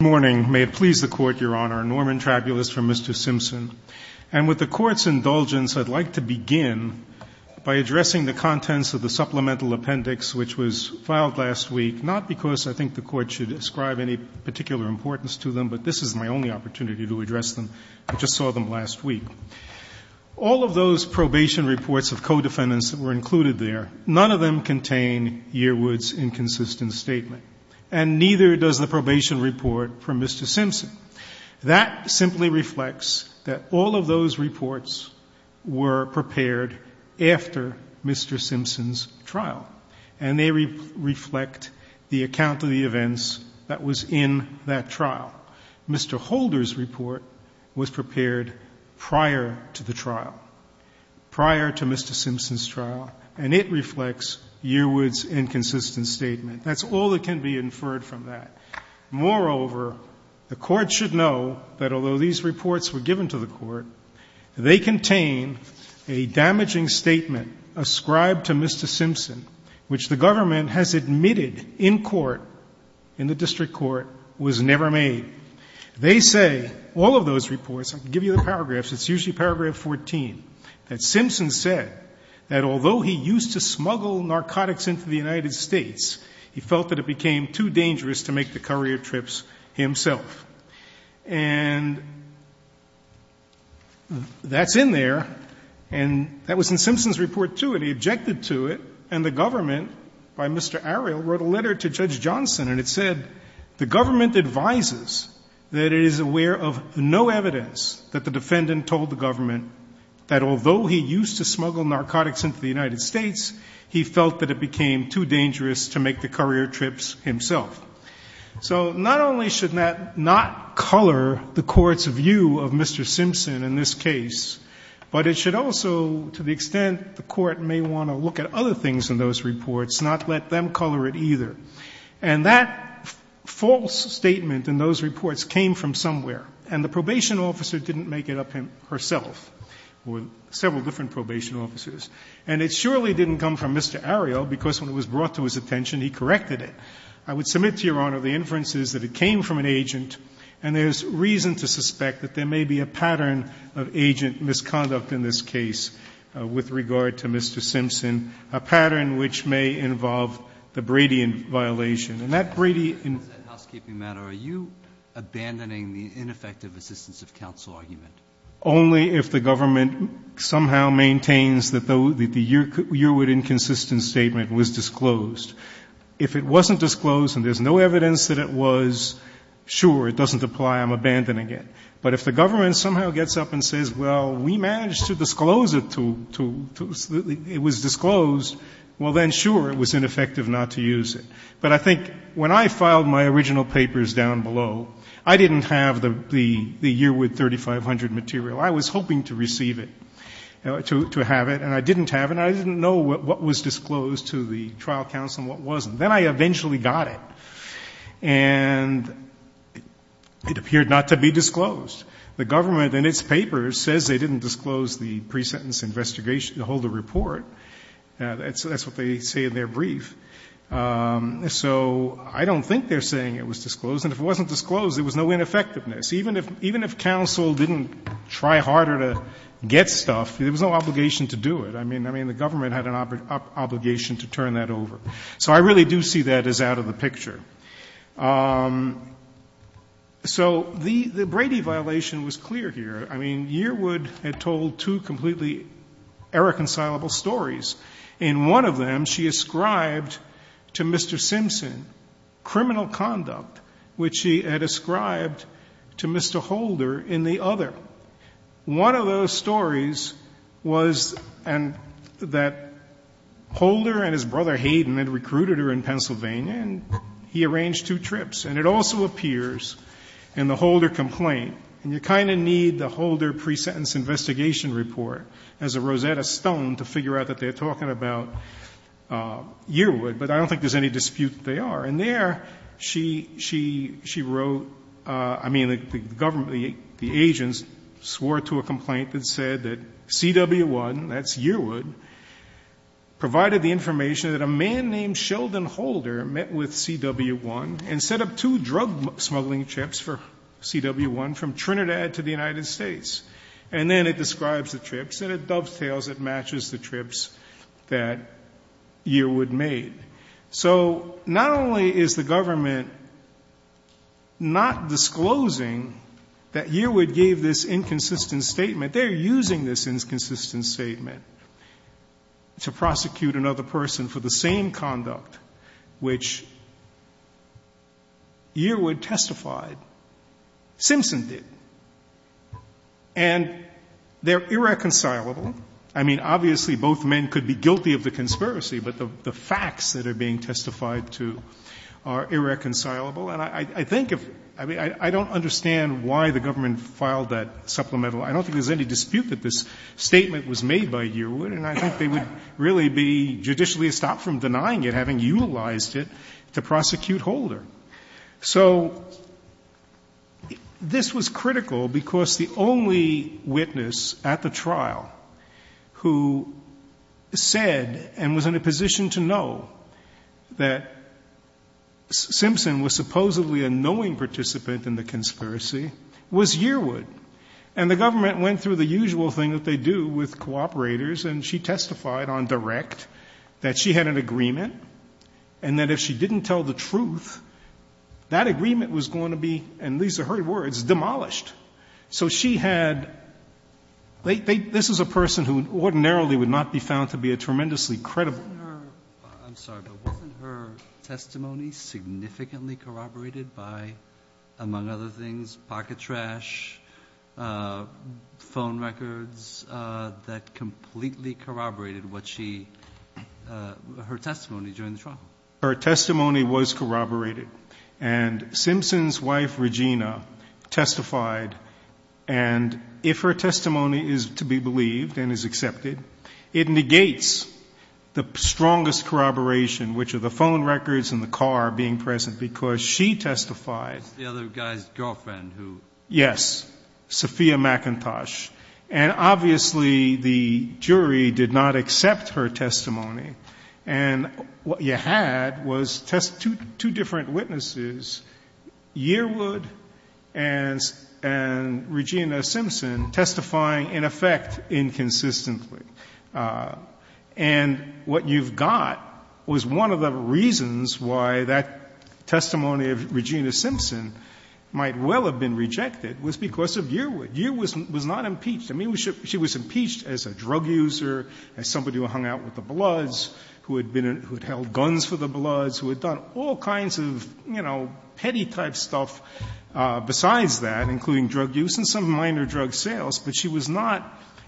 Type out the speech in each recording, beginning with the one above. Good morning, may it please the Court, Your Honor. Norman Trabulis from Mr. Simpson. And with the Court's indulgence, I'd like to begin by addressing the contents of the supplemental appendix which was filed last week, not because I think the Court should ascribe any particular importance to them, but this is my only opportunity to address them. I just saw them last week. All of those probation reports of codefendants that were included there, none of them contain Yearwood's inconsistent statement. And neither does the probation report from Mr. Simpson. That simply reflects that all of those reports were prepared after Mr. Simpson's trial. And they reflect the account of the events that was in that trial. Mr. Holder's report was prepared prior to the trial, prior to Mr. Simpson's trial, and it reflects Yearwood's inconsistent statement. That's all that can be inferred from that. Moreover, the Court should know that although these reports were given to the Court, they contain a damaging statement ascribed to Mr. Simpson which the government has admitted in court, in the district court, was never made. They say, all of those reports, I can give you the paragraphs, it's usually paragraph 14, that Simpson said that although he used to smuggle narcotics into the United States, he felt that it became too dangerous to make the courier trips himself. And that's in there, and that was in Simpson's report, too, and he objected to it. And the government, by Mr. Ariel, wrote a letter to Judge Johnson, and it said, the government advises that it is aware of no evidence that the defendant told the government that although he used to smuggle narcotics into the United States, he felt that it became too dangerous to make the courier trips himself. So not only should that not color the Court's view of Mr. Simpson in this case, but it should also, to the extent the Court may want to look at other things in those reports, not let them color it either. And that false statement in those reports came from somewhere, and the probation officer didn't make it up herself, or several different probation officers. And it surely didn't come from Mr. Ariel, because when it was brought to his attention, he corrected it. I would submit to Your Honor, the inference is that it came from an agent, and there is reason to suspect that there may be a pattern of agent misconduct in this case with regard to Mr. Simpson, a pattern which may involve the Brady violation. And that Brady in the housekeeping matter, are you abandoning the ineffective assistance of counsel argument? Only if the government somehow maintains that the Yearwood inconsistent statement was disclosed. If it wasn't disclosed and there's no evidence that it was, sure, it doesn't apply, I'm abandoning it. But if the government somehow gets up and says, well, we managed to disclose it to the, it was disclosed, well, then, sure, it was ineffective not to use it. But I think when I filed my original papers down below, I didn't have the Yearwood 3500 material. I was hoping to receive it, to have it, and I didn't have it. And I didn't know what was disclosed to the trial counsel and what wasn't. Then I eventually got it. And it appeared not to be disclosed. The government in its papers says they didn't disclose the pre-sentence investigation to hold a report. That's what they say in their brief. So I don't think they're saying it was disclosed. And if it wasn't disclosed, there was no ineffectiveness. Even if counsel didn't try harder to get stuff, there was no obligation to do it. I mean, the government had an obligation to turn that over. So I really do see that as out of the picture. So the Brady violation was clear here. I mean, Yearwood had told two completely irreconcilable stories. In one of them, she ascribed to Mr. Simpson criminal conduct, which she had ascribed to Mr. Holder, in the other. One of those stories was that Holder and his brother Hayden had recruited her in Pennsylvania and he arranged two trips. And it also appears in the Holder complaint. And you kind of need the Holder pre-sentence investigation report as a Rosetta Stone to figure out that they're talking about Yearwood. But I don't think there's any dispute that they are. And there, she wrote, I mean, the government, the agents swore to a complaint that said that CW1, that's Yearwood, provided the information that a man named Sheldon Holder met with CW1 and set up two drug smuggling trips for CW1 from Trinidad to the United States. And then it describes the trips and it dovetails, it matches the trips that Yearwood made. So not only is the government not disclosing that Yearwood gave this inconsistent statement, they're using this inconsistent statement to prosecute another person for the same conduct which Yearwood testified Simpson did. And they're irreconcilable. I mean, obviously, both men could be guilty of the conspiracy. But the facts that are being testified to are irreconcilable. And I think if, I mean, I don't understand why the government filed that supplemental argument. I don't think there's any dispute that this statement was made by Yearwood. And I think they would really be judicially stopped from denying it, having utilized it, to prosecute Holder. So this was critical because the only witness at the trial who said and was in a position to know that Simpson was supposedly a knowing participant in the conspiracy was Yearwood. And the government went through the usual thing that they do with cooperators and she testified on direct that she had an agreement and that if she didn't tell the truth, that agreement was going to be, and these are her words, demolished. So she had they they this is a person who ordinarily would not be found to be a tremendously credible. Breyer. I'm sorry, but wasn't her testimony significantly corroborated by, among other things, pocket trash, phone records that completely corroborated what she her testimony during the trial? Her testimony was corroborated. And Simpson's wife, Regina, testified. And if her testimony is to be believed and is accepted, it negates the strongest corroboration, which are the phone records and the car being present, because she testified. The other guy's girlfriend who. Yes. Sophia McIntosh. And obviously the jury did not accept her testimony. And what you had was two different witnesses, Yearwood and Regina Simpson, testifying in effect inconsistently. And what you've got was one of the reasons why that testimony of Regina Simpson might well have been rejected was because of Yearwood. Yearwood was not impeached. I mean, she was impeached as a drug user, as somebody who hung out with the Bloods, who had held guns for the Bloods, who had done all kinds of, you know, petty-type stuff besides that, including drug use and some minor drug sales. But she was not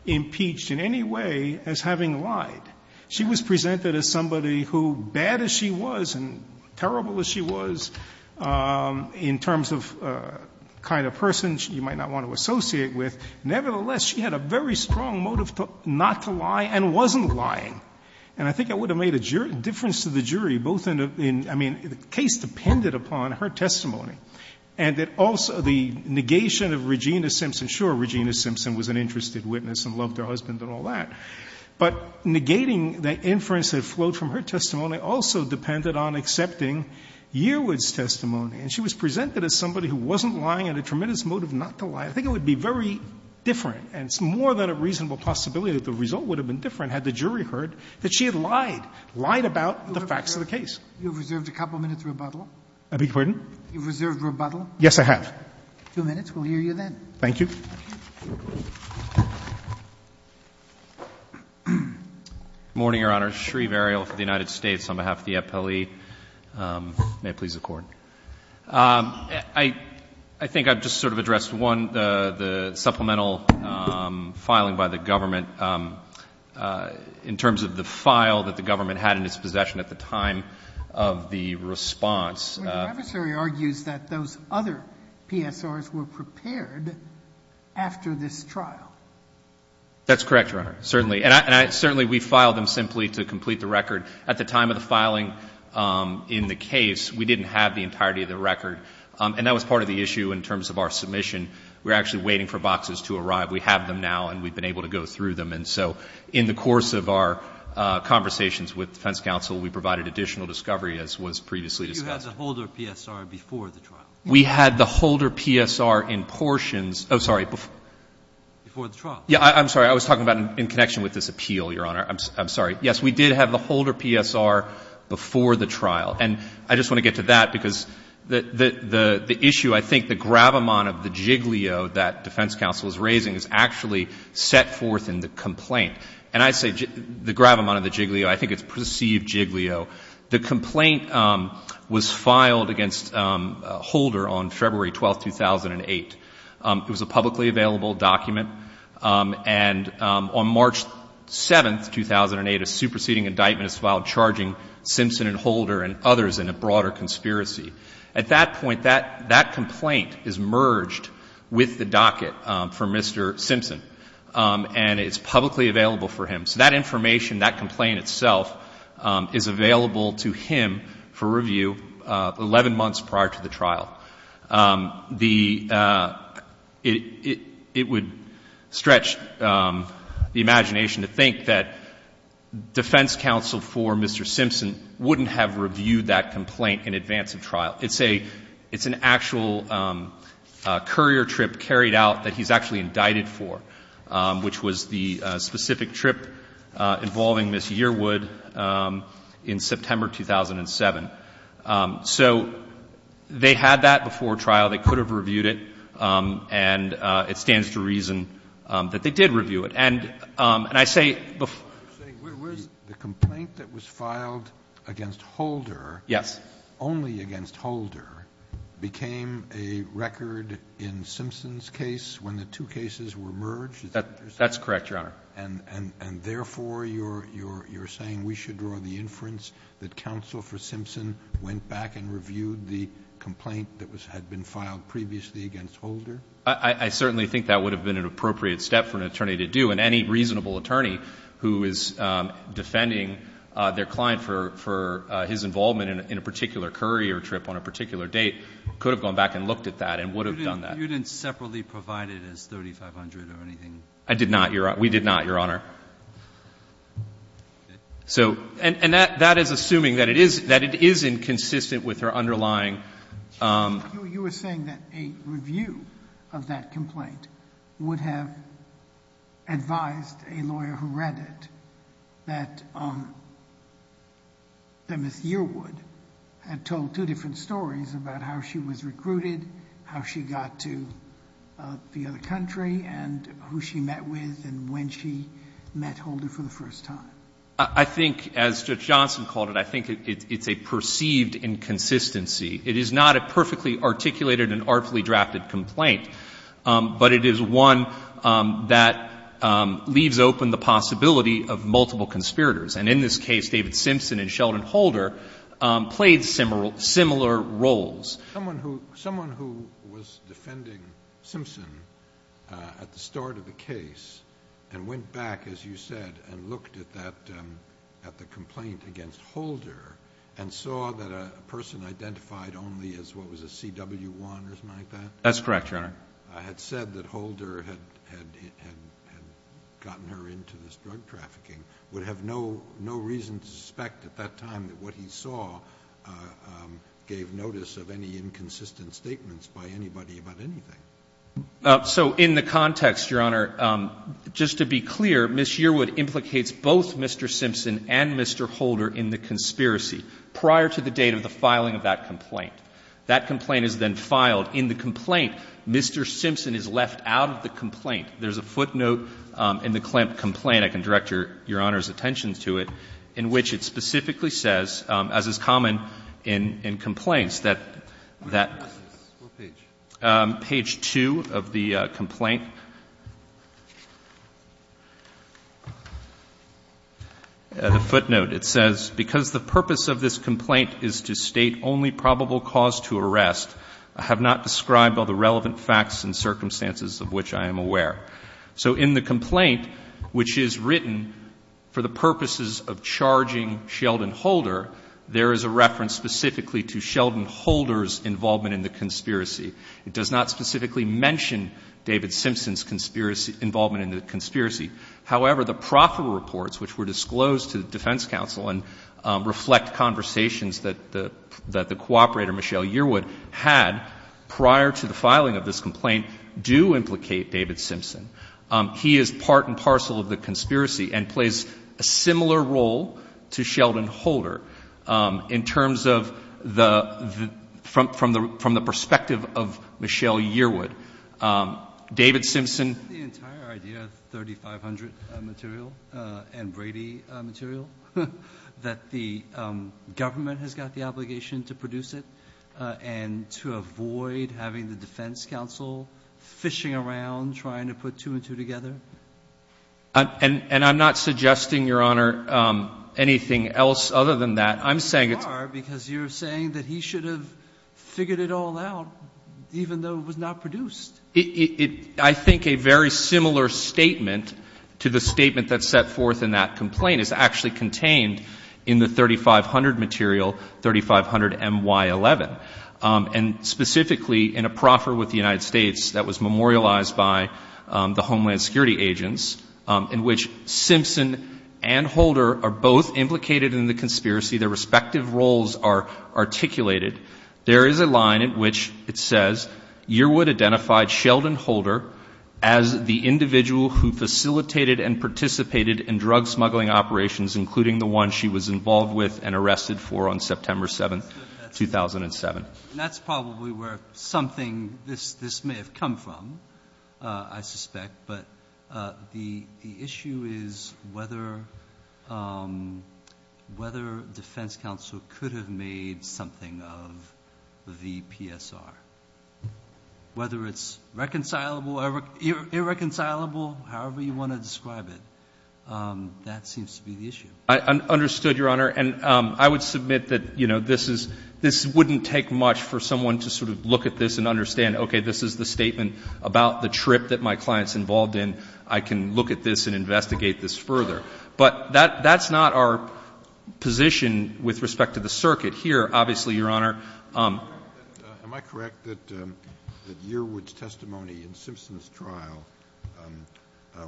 impeached in any way as having lied. She was presented as somebody who, bad as she was and terrible as she was in terms of kind of person you might not want to associate with, nevertheless, she had a very strong motive not to lie and wasn't lying. And I think it would have made a difference to the jury, both in the case depended upon her testimony and that also the negation of Regina Simpson. Sure, Regina Simpson was an interested witness and loved her husband and all that. But negating the inference that flowed from her testimony also depended on accepting Yearwood's testimony. And she was presented as somebody who wasn't lying and had a tremendous motive not to lie. I think it would be very different, and it's more than a reasonable possibility that the result would have been different had the jury heard that she had lied, lied about the facts of the case. You have reserved a couple minutes' rebuttal. I beg your pardon? You have reserved rebuttal. Yes, I have. Two minutes. We'll hear you then. Thank you. Good morning, Your Honor. Shreve Ariel for the United States on behalf of the appellee. May it please the Court. I think I've just sort of addressed, one, the supplemental filing by the government in terms of the file that the government had in its possession at the time of the response. The adversary argues that those other PSRs were prepared after this trial. That's correct, Your Honor, certainly. And certainly we filed them simply to complete the record. At the time of the filing in the case, we didn't have the entirety of the record. And that was part of the issue in terms of our submission. We were actually waiting for boxes to arrive. We have them now, and we've been able to go through them. And so in the course of our conversations with defense counsel, we provided additional discovery, as was previously discussed. Did you have the Holder PSR before the trial? We had the Holder PSR in portions. Oh, sorry. Before the trial. Yeah, I'm sorry. I was talking about in connection with this appeal, Your Honor. I'm sorry. Yes, we did have the Holder PSR before the trial. And I just want to get to that, because the issue I think the gravamon of the giglio that defense counsel is raising is actually set forth in the complaint. And I say the gravamon of the giglio. I think it's perceived giglio. The complaint was filed against Holder on February 12, 2008. It was a publicly available document. And on March 7, 2008, a superseding indictment was filed charging Simpson and Holder and others in a broader conspiracy. At that point, that complaint is merged with the docket for Mr. Simpson, and it's publicly available for him. So that information, that complaint itself, is available to him for review 11 months prior to the trial. It would stretch the imagination to think that defense counsel for Mr. Simpson wouldn't have reviewed that complaint in advance of trial. It's an actual courier trip carried out that he's actually indicted for, which was the specific trip involving Ms. Yearwood in September 2007. So they had that before trial. They could have reviewed it. And it stands to reason that they did review it. And I say before the complaint that was filed against Holder. Yes. Only against Holder became a record in Simpson's case when the two cases were merged. That's correct, Your Honor. And, therefore, you're saying we should draw the inference that counsel for Simpson went back and reviewed the complaint that had been filed previously against Holder? I certainly think that would have been an appropriate step for an attorney to do, and any reasonable attorney who is defending their client for his involvement in a particular courier trip on a particular date could have gone back and looked at that and would have done that. You didn't separately provide it as $3,500 or anything? I did not, Your Honor. We did not, Your Honor. And that is assuming that it is inconsistent with her underlying. You were saying that a review of that complaint would have advised a lawyer who read it that Ms. Yearwood had told two different stories about how she was recruited, how she got to the other country, and who she met with and when she met Holder for the first time. I think, as Judge Johnson called it, I think it's a perceived inconsistency. It is not a perfectly articulated and artfully drafted complaint, but it is one that leaves open the possibility of multiple conspirators. And in this case, David Simpson and Sheldon Holder played similar roles. Someone who was defending Simpson at the start of the case and went back, as you said, and looked at the complaint against Holder and saw that a person identified only as what was a CW1 or something like that... That's correct, Your Honor.... had said that Holder had gotten her into this drug trafficking would have no reason to suspect at that time that what he saw gave notice of any inconsistent statements by anybody about anything. So in the context, Your Honor, just to be clear, Ms. Yearwood implicates both Mr. Simpson and Mr. Holder in the conspiracy prior to the date of the filing of that complaint. That complaint is then filed. There's a footnote in the Klemt complaint, I can direct Your Honor's attention to it, in which it specifically says, as is common in complaints, that that... Page 2 of the complaint. The footnote. It says, So in the complaint, which is written for the purposes of charging Sheldon Holder, there is a reference specifically to Sheldon Holder's involvement in the conspiracy. It does not specifically mention David Simpson's involvement in the conspiracy. However, the proffer reports, which were disclosed to the defense counsel and reflect conversations that the cooperator, Michelle Yearwood, had prior to the filing of this complaint, do implicate David Simpson. He is part and parcel of the conspiracy and plays a similar role to Sheldon Holder in terms of the... from the perspective of Michelle Yearwood. David Simpson... I have no prior idea of 3500 material and Brady material that the government has got the obligation to produce it and to avoid having the defense counsel fishing around trying to put two and two together. And I'm not suggesting, Your Honor, anything else other than that. I'm saying it's... You are, because you're saying that he should have figured it all out, even though it was not produced. I think a very similar statement to the statement that's set forth in that complaint is actually contained in the 3500 material, 3500MY11. And specifically, in a proffer with the United States that was memorialized by the Homeland Security agents, in which Simpson and Holder are both implicated in the conspiracy, their respective roles are articulated, there is a line in which it says, Yearwood identified Sheldon Holder as the individual who facilitated and participated in drug smuggling operations, including the one she was involved with and arrested for on September 7, 2007. That's probably where something... this may have come from, I suspect. But the issue is whether defense counsel could have made something of the PSR. Whether it's reconcilable or irreconcilable, however you want to describe it, that seems to be the issue. I understood, Your Honor. And I would submit that this wouldn't take much for someone to sort of look at this and understand, okay, this is the statement about the trip that my client is involved in. I can look at this and investigate this further. But that's not our position with respect to the circuit. Here, obviously, Your Honor... Am I correct that Yearwood's testimony in Simpson's trial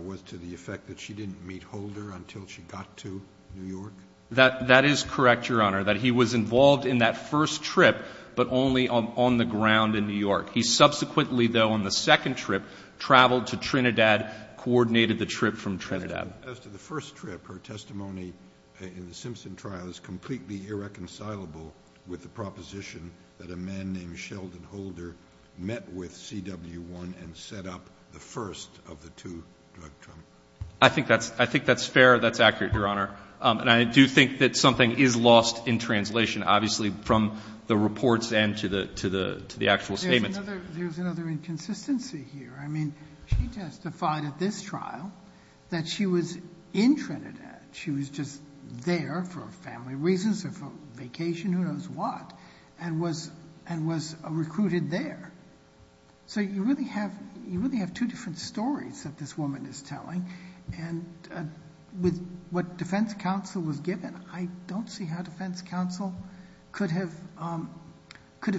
was to the effect that she didn't meet Holder until she got to New York? That is correct, Your Honor, that he was involved in that first trip, but only on the first round in New York. He subsequently, though, on the second trip, traveled to Trinidad, coordinated the trip from Trinidad. As to the first trip, her testimony in the Simpson trial is completely irreconcilable with the proposition that a man named Sheldon Holder met with CW1 and set up the first of the two drug trials. I think that's fair. That's accurate, Your Honor. And I do think that something is lost in translation, obviously, from the reports and to the actual statements. There's another inconsistency here. I mean, she testified at this trial that she was in Trinidad. She was just there for family reasons or for vacation, who knows what, and was recruited there. So you really have two different stories that this woman is telling. And with what defense counsel was given, I don't see how defense counsel could have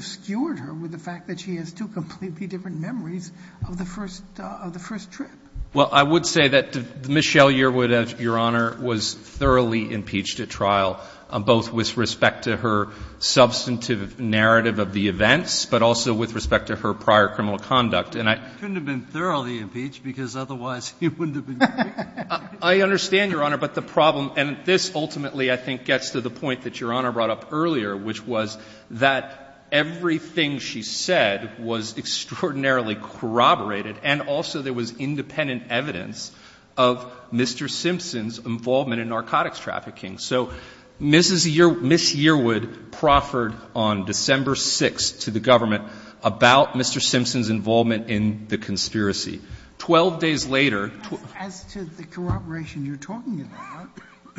skewered her with the fact that she has two completely different memories of the first trip. Well, I would say that Michelle Yearwood, Your Honor, was thoroughly impeached at trial, both with respect to her substantive narrative of the events, but also with respect to her prior criminal conduct. Couldn't have been thoroughly impeached, because otherwise he wouldn't have been impeached. I understand, Your Honor. But the problem, and this ultimately, I think, gets to the point that Your Honor brought up earlier, which was that everything she said was extraordinarily corroborated, and also there was independent evidence of Mr. Simpson's involvement in narcotics trafficking. So Ms. Yearwood proffered on December 6th to the government about Mr. Simpson's involvement in the conspiracy. Twelve days later — As to the corroboration you're talking about,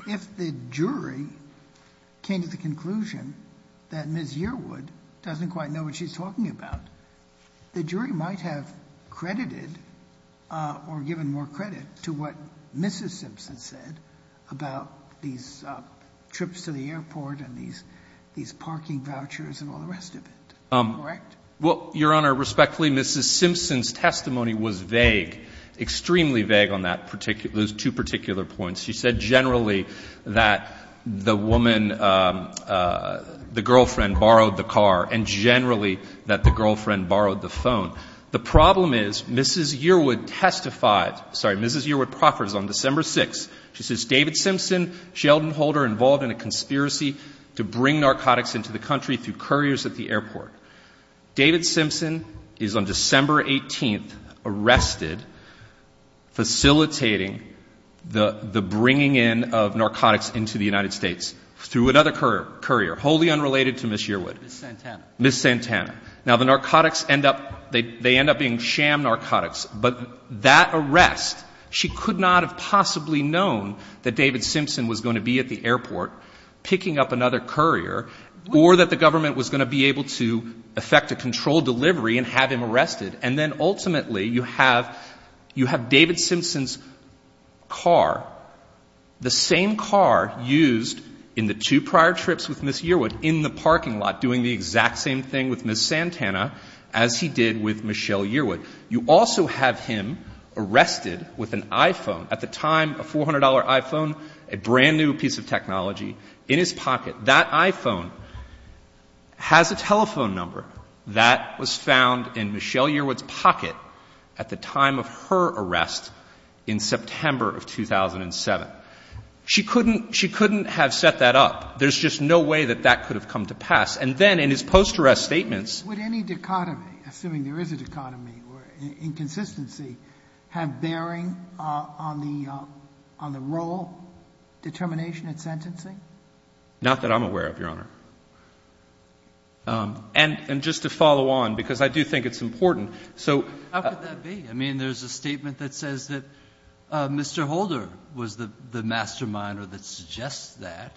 if the jury came to the conclusion that Ms. Yearwood doesn't quite know what she's talking about, the jury might have credited or given more credit to what Mrs. Simpson said about these trips to the airport and these parking vouchers and all the rest of it. Is that correct? Well, Your Honor, respectfully, Mrs. Simpson's testimony was vague, extremely vague on that particular — those two particular points. She said generally that the woman — the girlfriend borrowed the car, and generally that the girlfriend borrowed the phone. The problem is, Mrs. Yearwood testified — sorry, Mrs. Yearwood proffers on December 6th. She says, David Simpson, Sheldon Holder involved in a conspiracy to bring narcotics into the country through couriers at the airport. David Simpson is on December 18th arrested facilitating the bringing in of narcotics into the United States through another courier, wholly unrelated to Ms. Yearwood. Ms. Santana. Ms. Santana. Now, the narcotics end up — they end up being sham narcotics, but that arrest, she could not have possibly known that David Simpson was going to be at the airport picking up another courier or that the government was going to be able to effect a controlled delivery and have him arrested. And then ultimately you have — you have David Simpson's car, the same car used in the two prior trips with Ms. Yearwood in the parking lot doing the exact same thing with Ms. Santana as he did with Michelle Yearwood. You also have him arrested with an iPhone, at the time a $400 iPhone, a brand new piece of technology, in his pocket. That iPhone has a telephone number. That was found in Michelle Yearwood's pocket at the time of her arrest in September of 2007. She couldn't — she couldn't have set that up. There's just no way that that could have come to pass. And then in his post-arrest statements — Would any dichotomy, assuming there is a dichotomy or inconsistency, have bearing on the — on the role, determination and sentencing? Not that I'm aware of, Your Honor. And just to follow on, because I do think it's important, so — How could that be? I mean, there's a statement that says that Mr. Holder was the mastermind or that suggests that.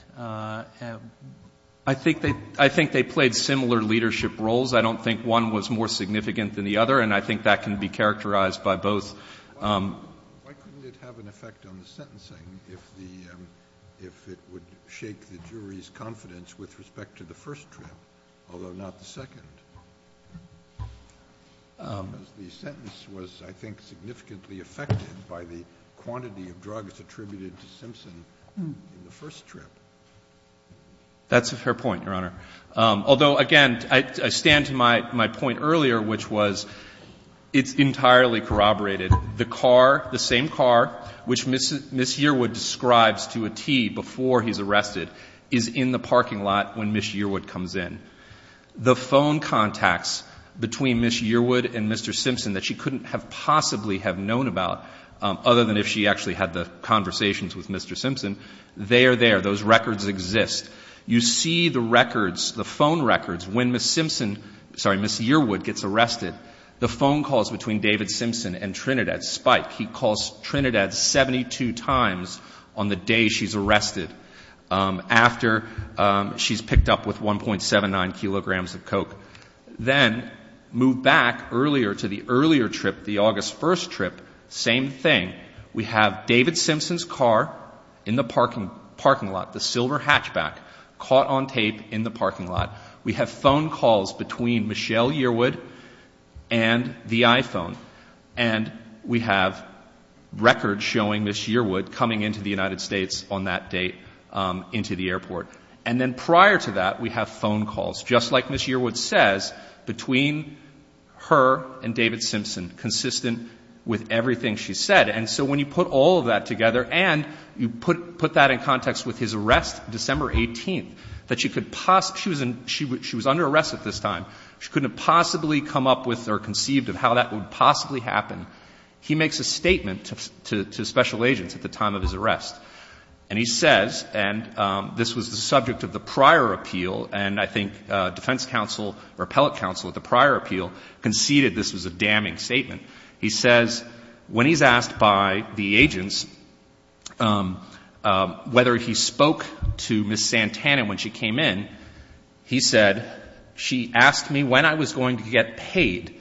I think they — I think they played similar leadership roles. I don't think one was more significant than the other, and I think that can be characterized by both. Why couldn't it have an effect on the sentencing if the — if it would shake the jury's confidence with respect to the first trip, although not the second? Because the sentence was, I think, significantly affected by the quantity of drugs attributed to Simpson in the first trip. That's a fair point, Your Honor. Although, again, I stand to my point earlier, which was it's entirely corroborated. The car, the same car, which Ms. Yearwood describes to a T before he's arrested, is in the parking lot when Ms. Yearwood comes in. The phone contacts between Ms. Yearwood and Mr. Simpson that she couldn't have possibly have known about, other than if she actually had the conversations with Mr. Simpson, they are there. Those records exist. You see the records, the phone records, when Ms. Simpson — sorry, Ms. Yearwood gets arrested. The phone calls between David Simpson and Trinidad spike. He calls Trinidad 72 times on the day she's arrested, after she's picked up with 1.79 kilograms of coke. Then move back earlier to the earlier trip, the August 1st trip, same thing. We have David Simpson's car in the parking lot, the silver hatchback, caught on tape in the parking lot. We have phone calls between Michelle Yearwood and the iPhone. And we have records showing Ms. Yearwood coming into the United States on that date into the airport. And then prior to that, we have phone calls, just like Ms. Yearwood says, between her and David Simpson, consistent with everything she said. And so when you put all of that together and you put that in context with his arrest December 18th, that she could — she was under arrest at this time. She couldn't have possibly come up with or conceived of how that would possibly happen. He makes a statement to special agents at the time of his arrest. And he says — and this was the subject of the prior appeal, and I think defense counsel or appellate counsel at the prior appeal conceded this was a damning statement. He says, when he's asked by the agents whether he spoke to Ms. Santana when she came in, he said, she asked me when I was going to get paid,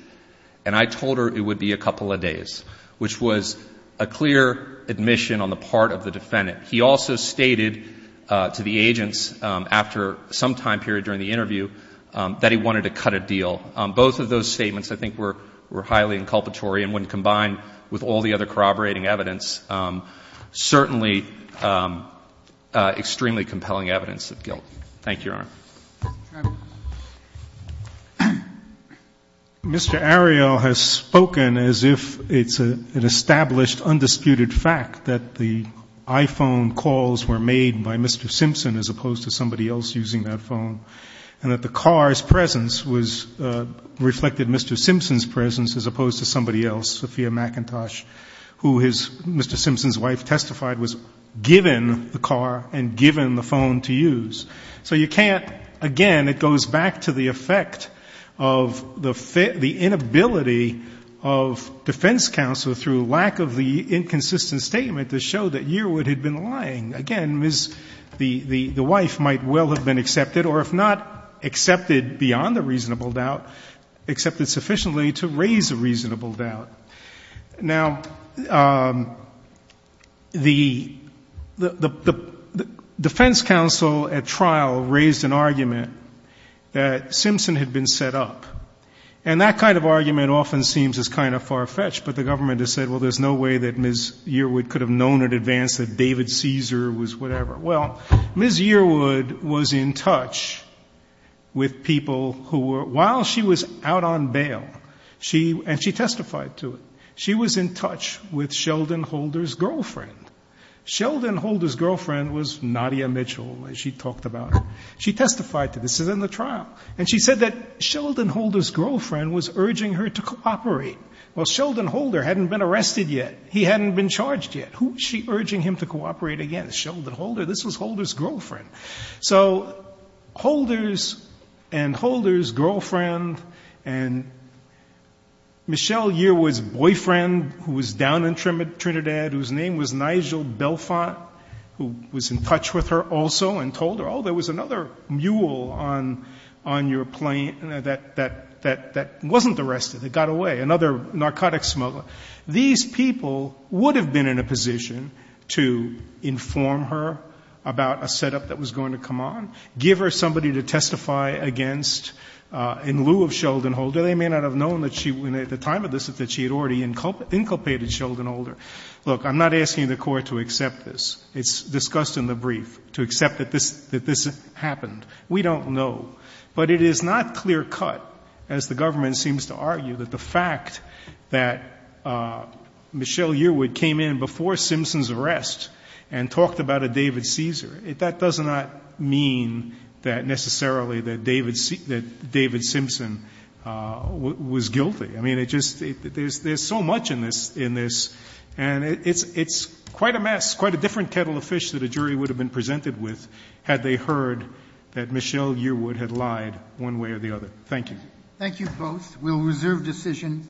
and I told her it would be a couple of days, which was a clear admission on the part of the defendant. He also stated to the agents after some time period during the interview that he wanted to cut a deal. Both of those statements I think were highly inculpatory, and when combined with all the other corroborating evidence, certainly extremely compelling evidence of guilt. Thank you, Your Honor. Mr. Ariel has spoken as if it's an established, undisputed fact that the iPhone calls were made by Mr. Simpson as opposed to somebody else using that phone, and that the car's presence was — reflected Mr. Simpson's presence as opposed to somebody else, Sophia McIntosh, who his — Mr. Simpson's wife testified was given the car and given the phone to use. So you can't — again, it goes back to the effect of the inability of defense counsel through lack of the inconsistent statement to show that Yearwood had been lying. Again, the wife might well have been accepted, or if not accepted beyond a reasonable doubt, accepted sufficiently to raise a reasonable doubt. Now, the defense counsel at trial raised an argument that Simpson had been set up, and that kind of argument often seems as kind of far-fetched, but the government has said, well, there's no way that Ms. Yearwood could have known in advance that David Caesar was whatever. Well, Ms. Yearwood was in touch with people who were — while she was out on bail, she — and she testified to it — she was in touch with Sheldon Holder's girlfriend. Sheldon Holder's girlfriend was Nadia Mitchell, as she talked about. She testified to this. This is in the trial. And she said that Sheldon Holder's girlfriend was urging her to cooperate. Well, Sheldon Holder hadn't been arrested yet. He hadn't been charged yet. Who is she urging him to cooperate against? Sheldon Holder. This was Holder's girlfriend. So Holder's and Holder's girlfriend and Michelle Yearwood's boyfriend, who was down in Trinidad, whose name was Nigel Belfont, who was in touch with her also and told her, oh, there was another mule on your plane that wasn't arrested. It got away. Another narcotics smuggler. These people would have been in a position to inform her about a setup that was going to come on, give her somebody to testify against in lieu of Sheldon Holder. They may not have known that she — at the time of this that she had already inculpated Sheldon Holder. Look, I'm not asking the Court to accept this. It's discussed in the brief, to accept that this — that this happened. We don't know. But it is not clear-cut, as the government seems to argue, that the fact that Michelle Yearwood came in before Simpson's arrest and talked about a David Caesar, that does not mean that necessarily that David Simpson was guilty. I mean, it just — there's so much in this, and it's quite a mess, quite a different kettle of fish that a jury would have been presented with had they heard that Michelle Yearwood had lied one way or the other. Thank you. Thank you both. We'll reserve decision.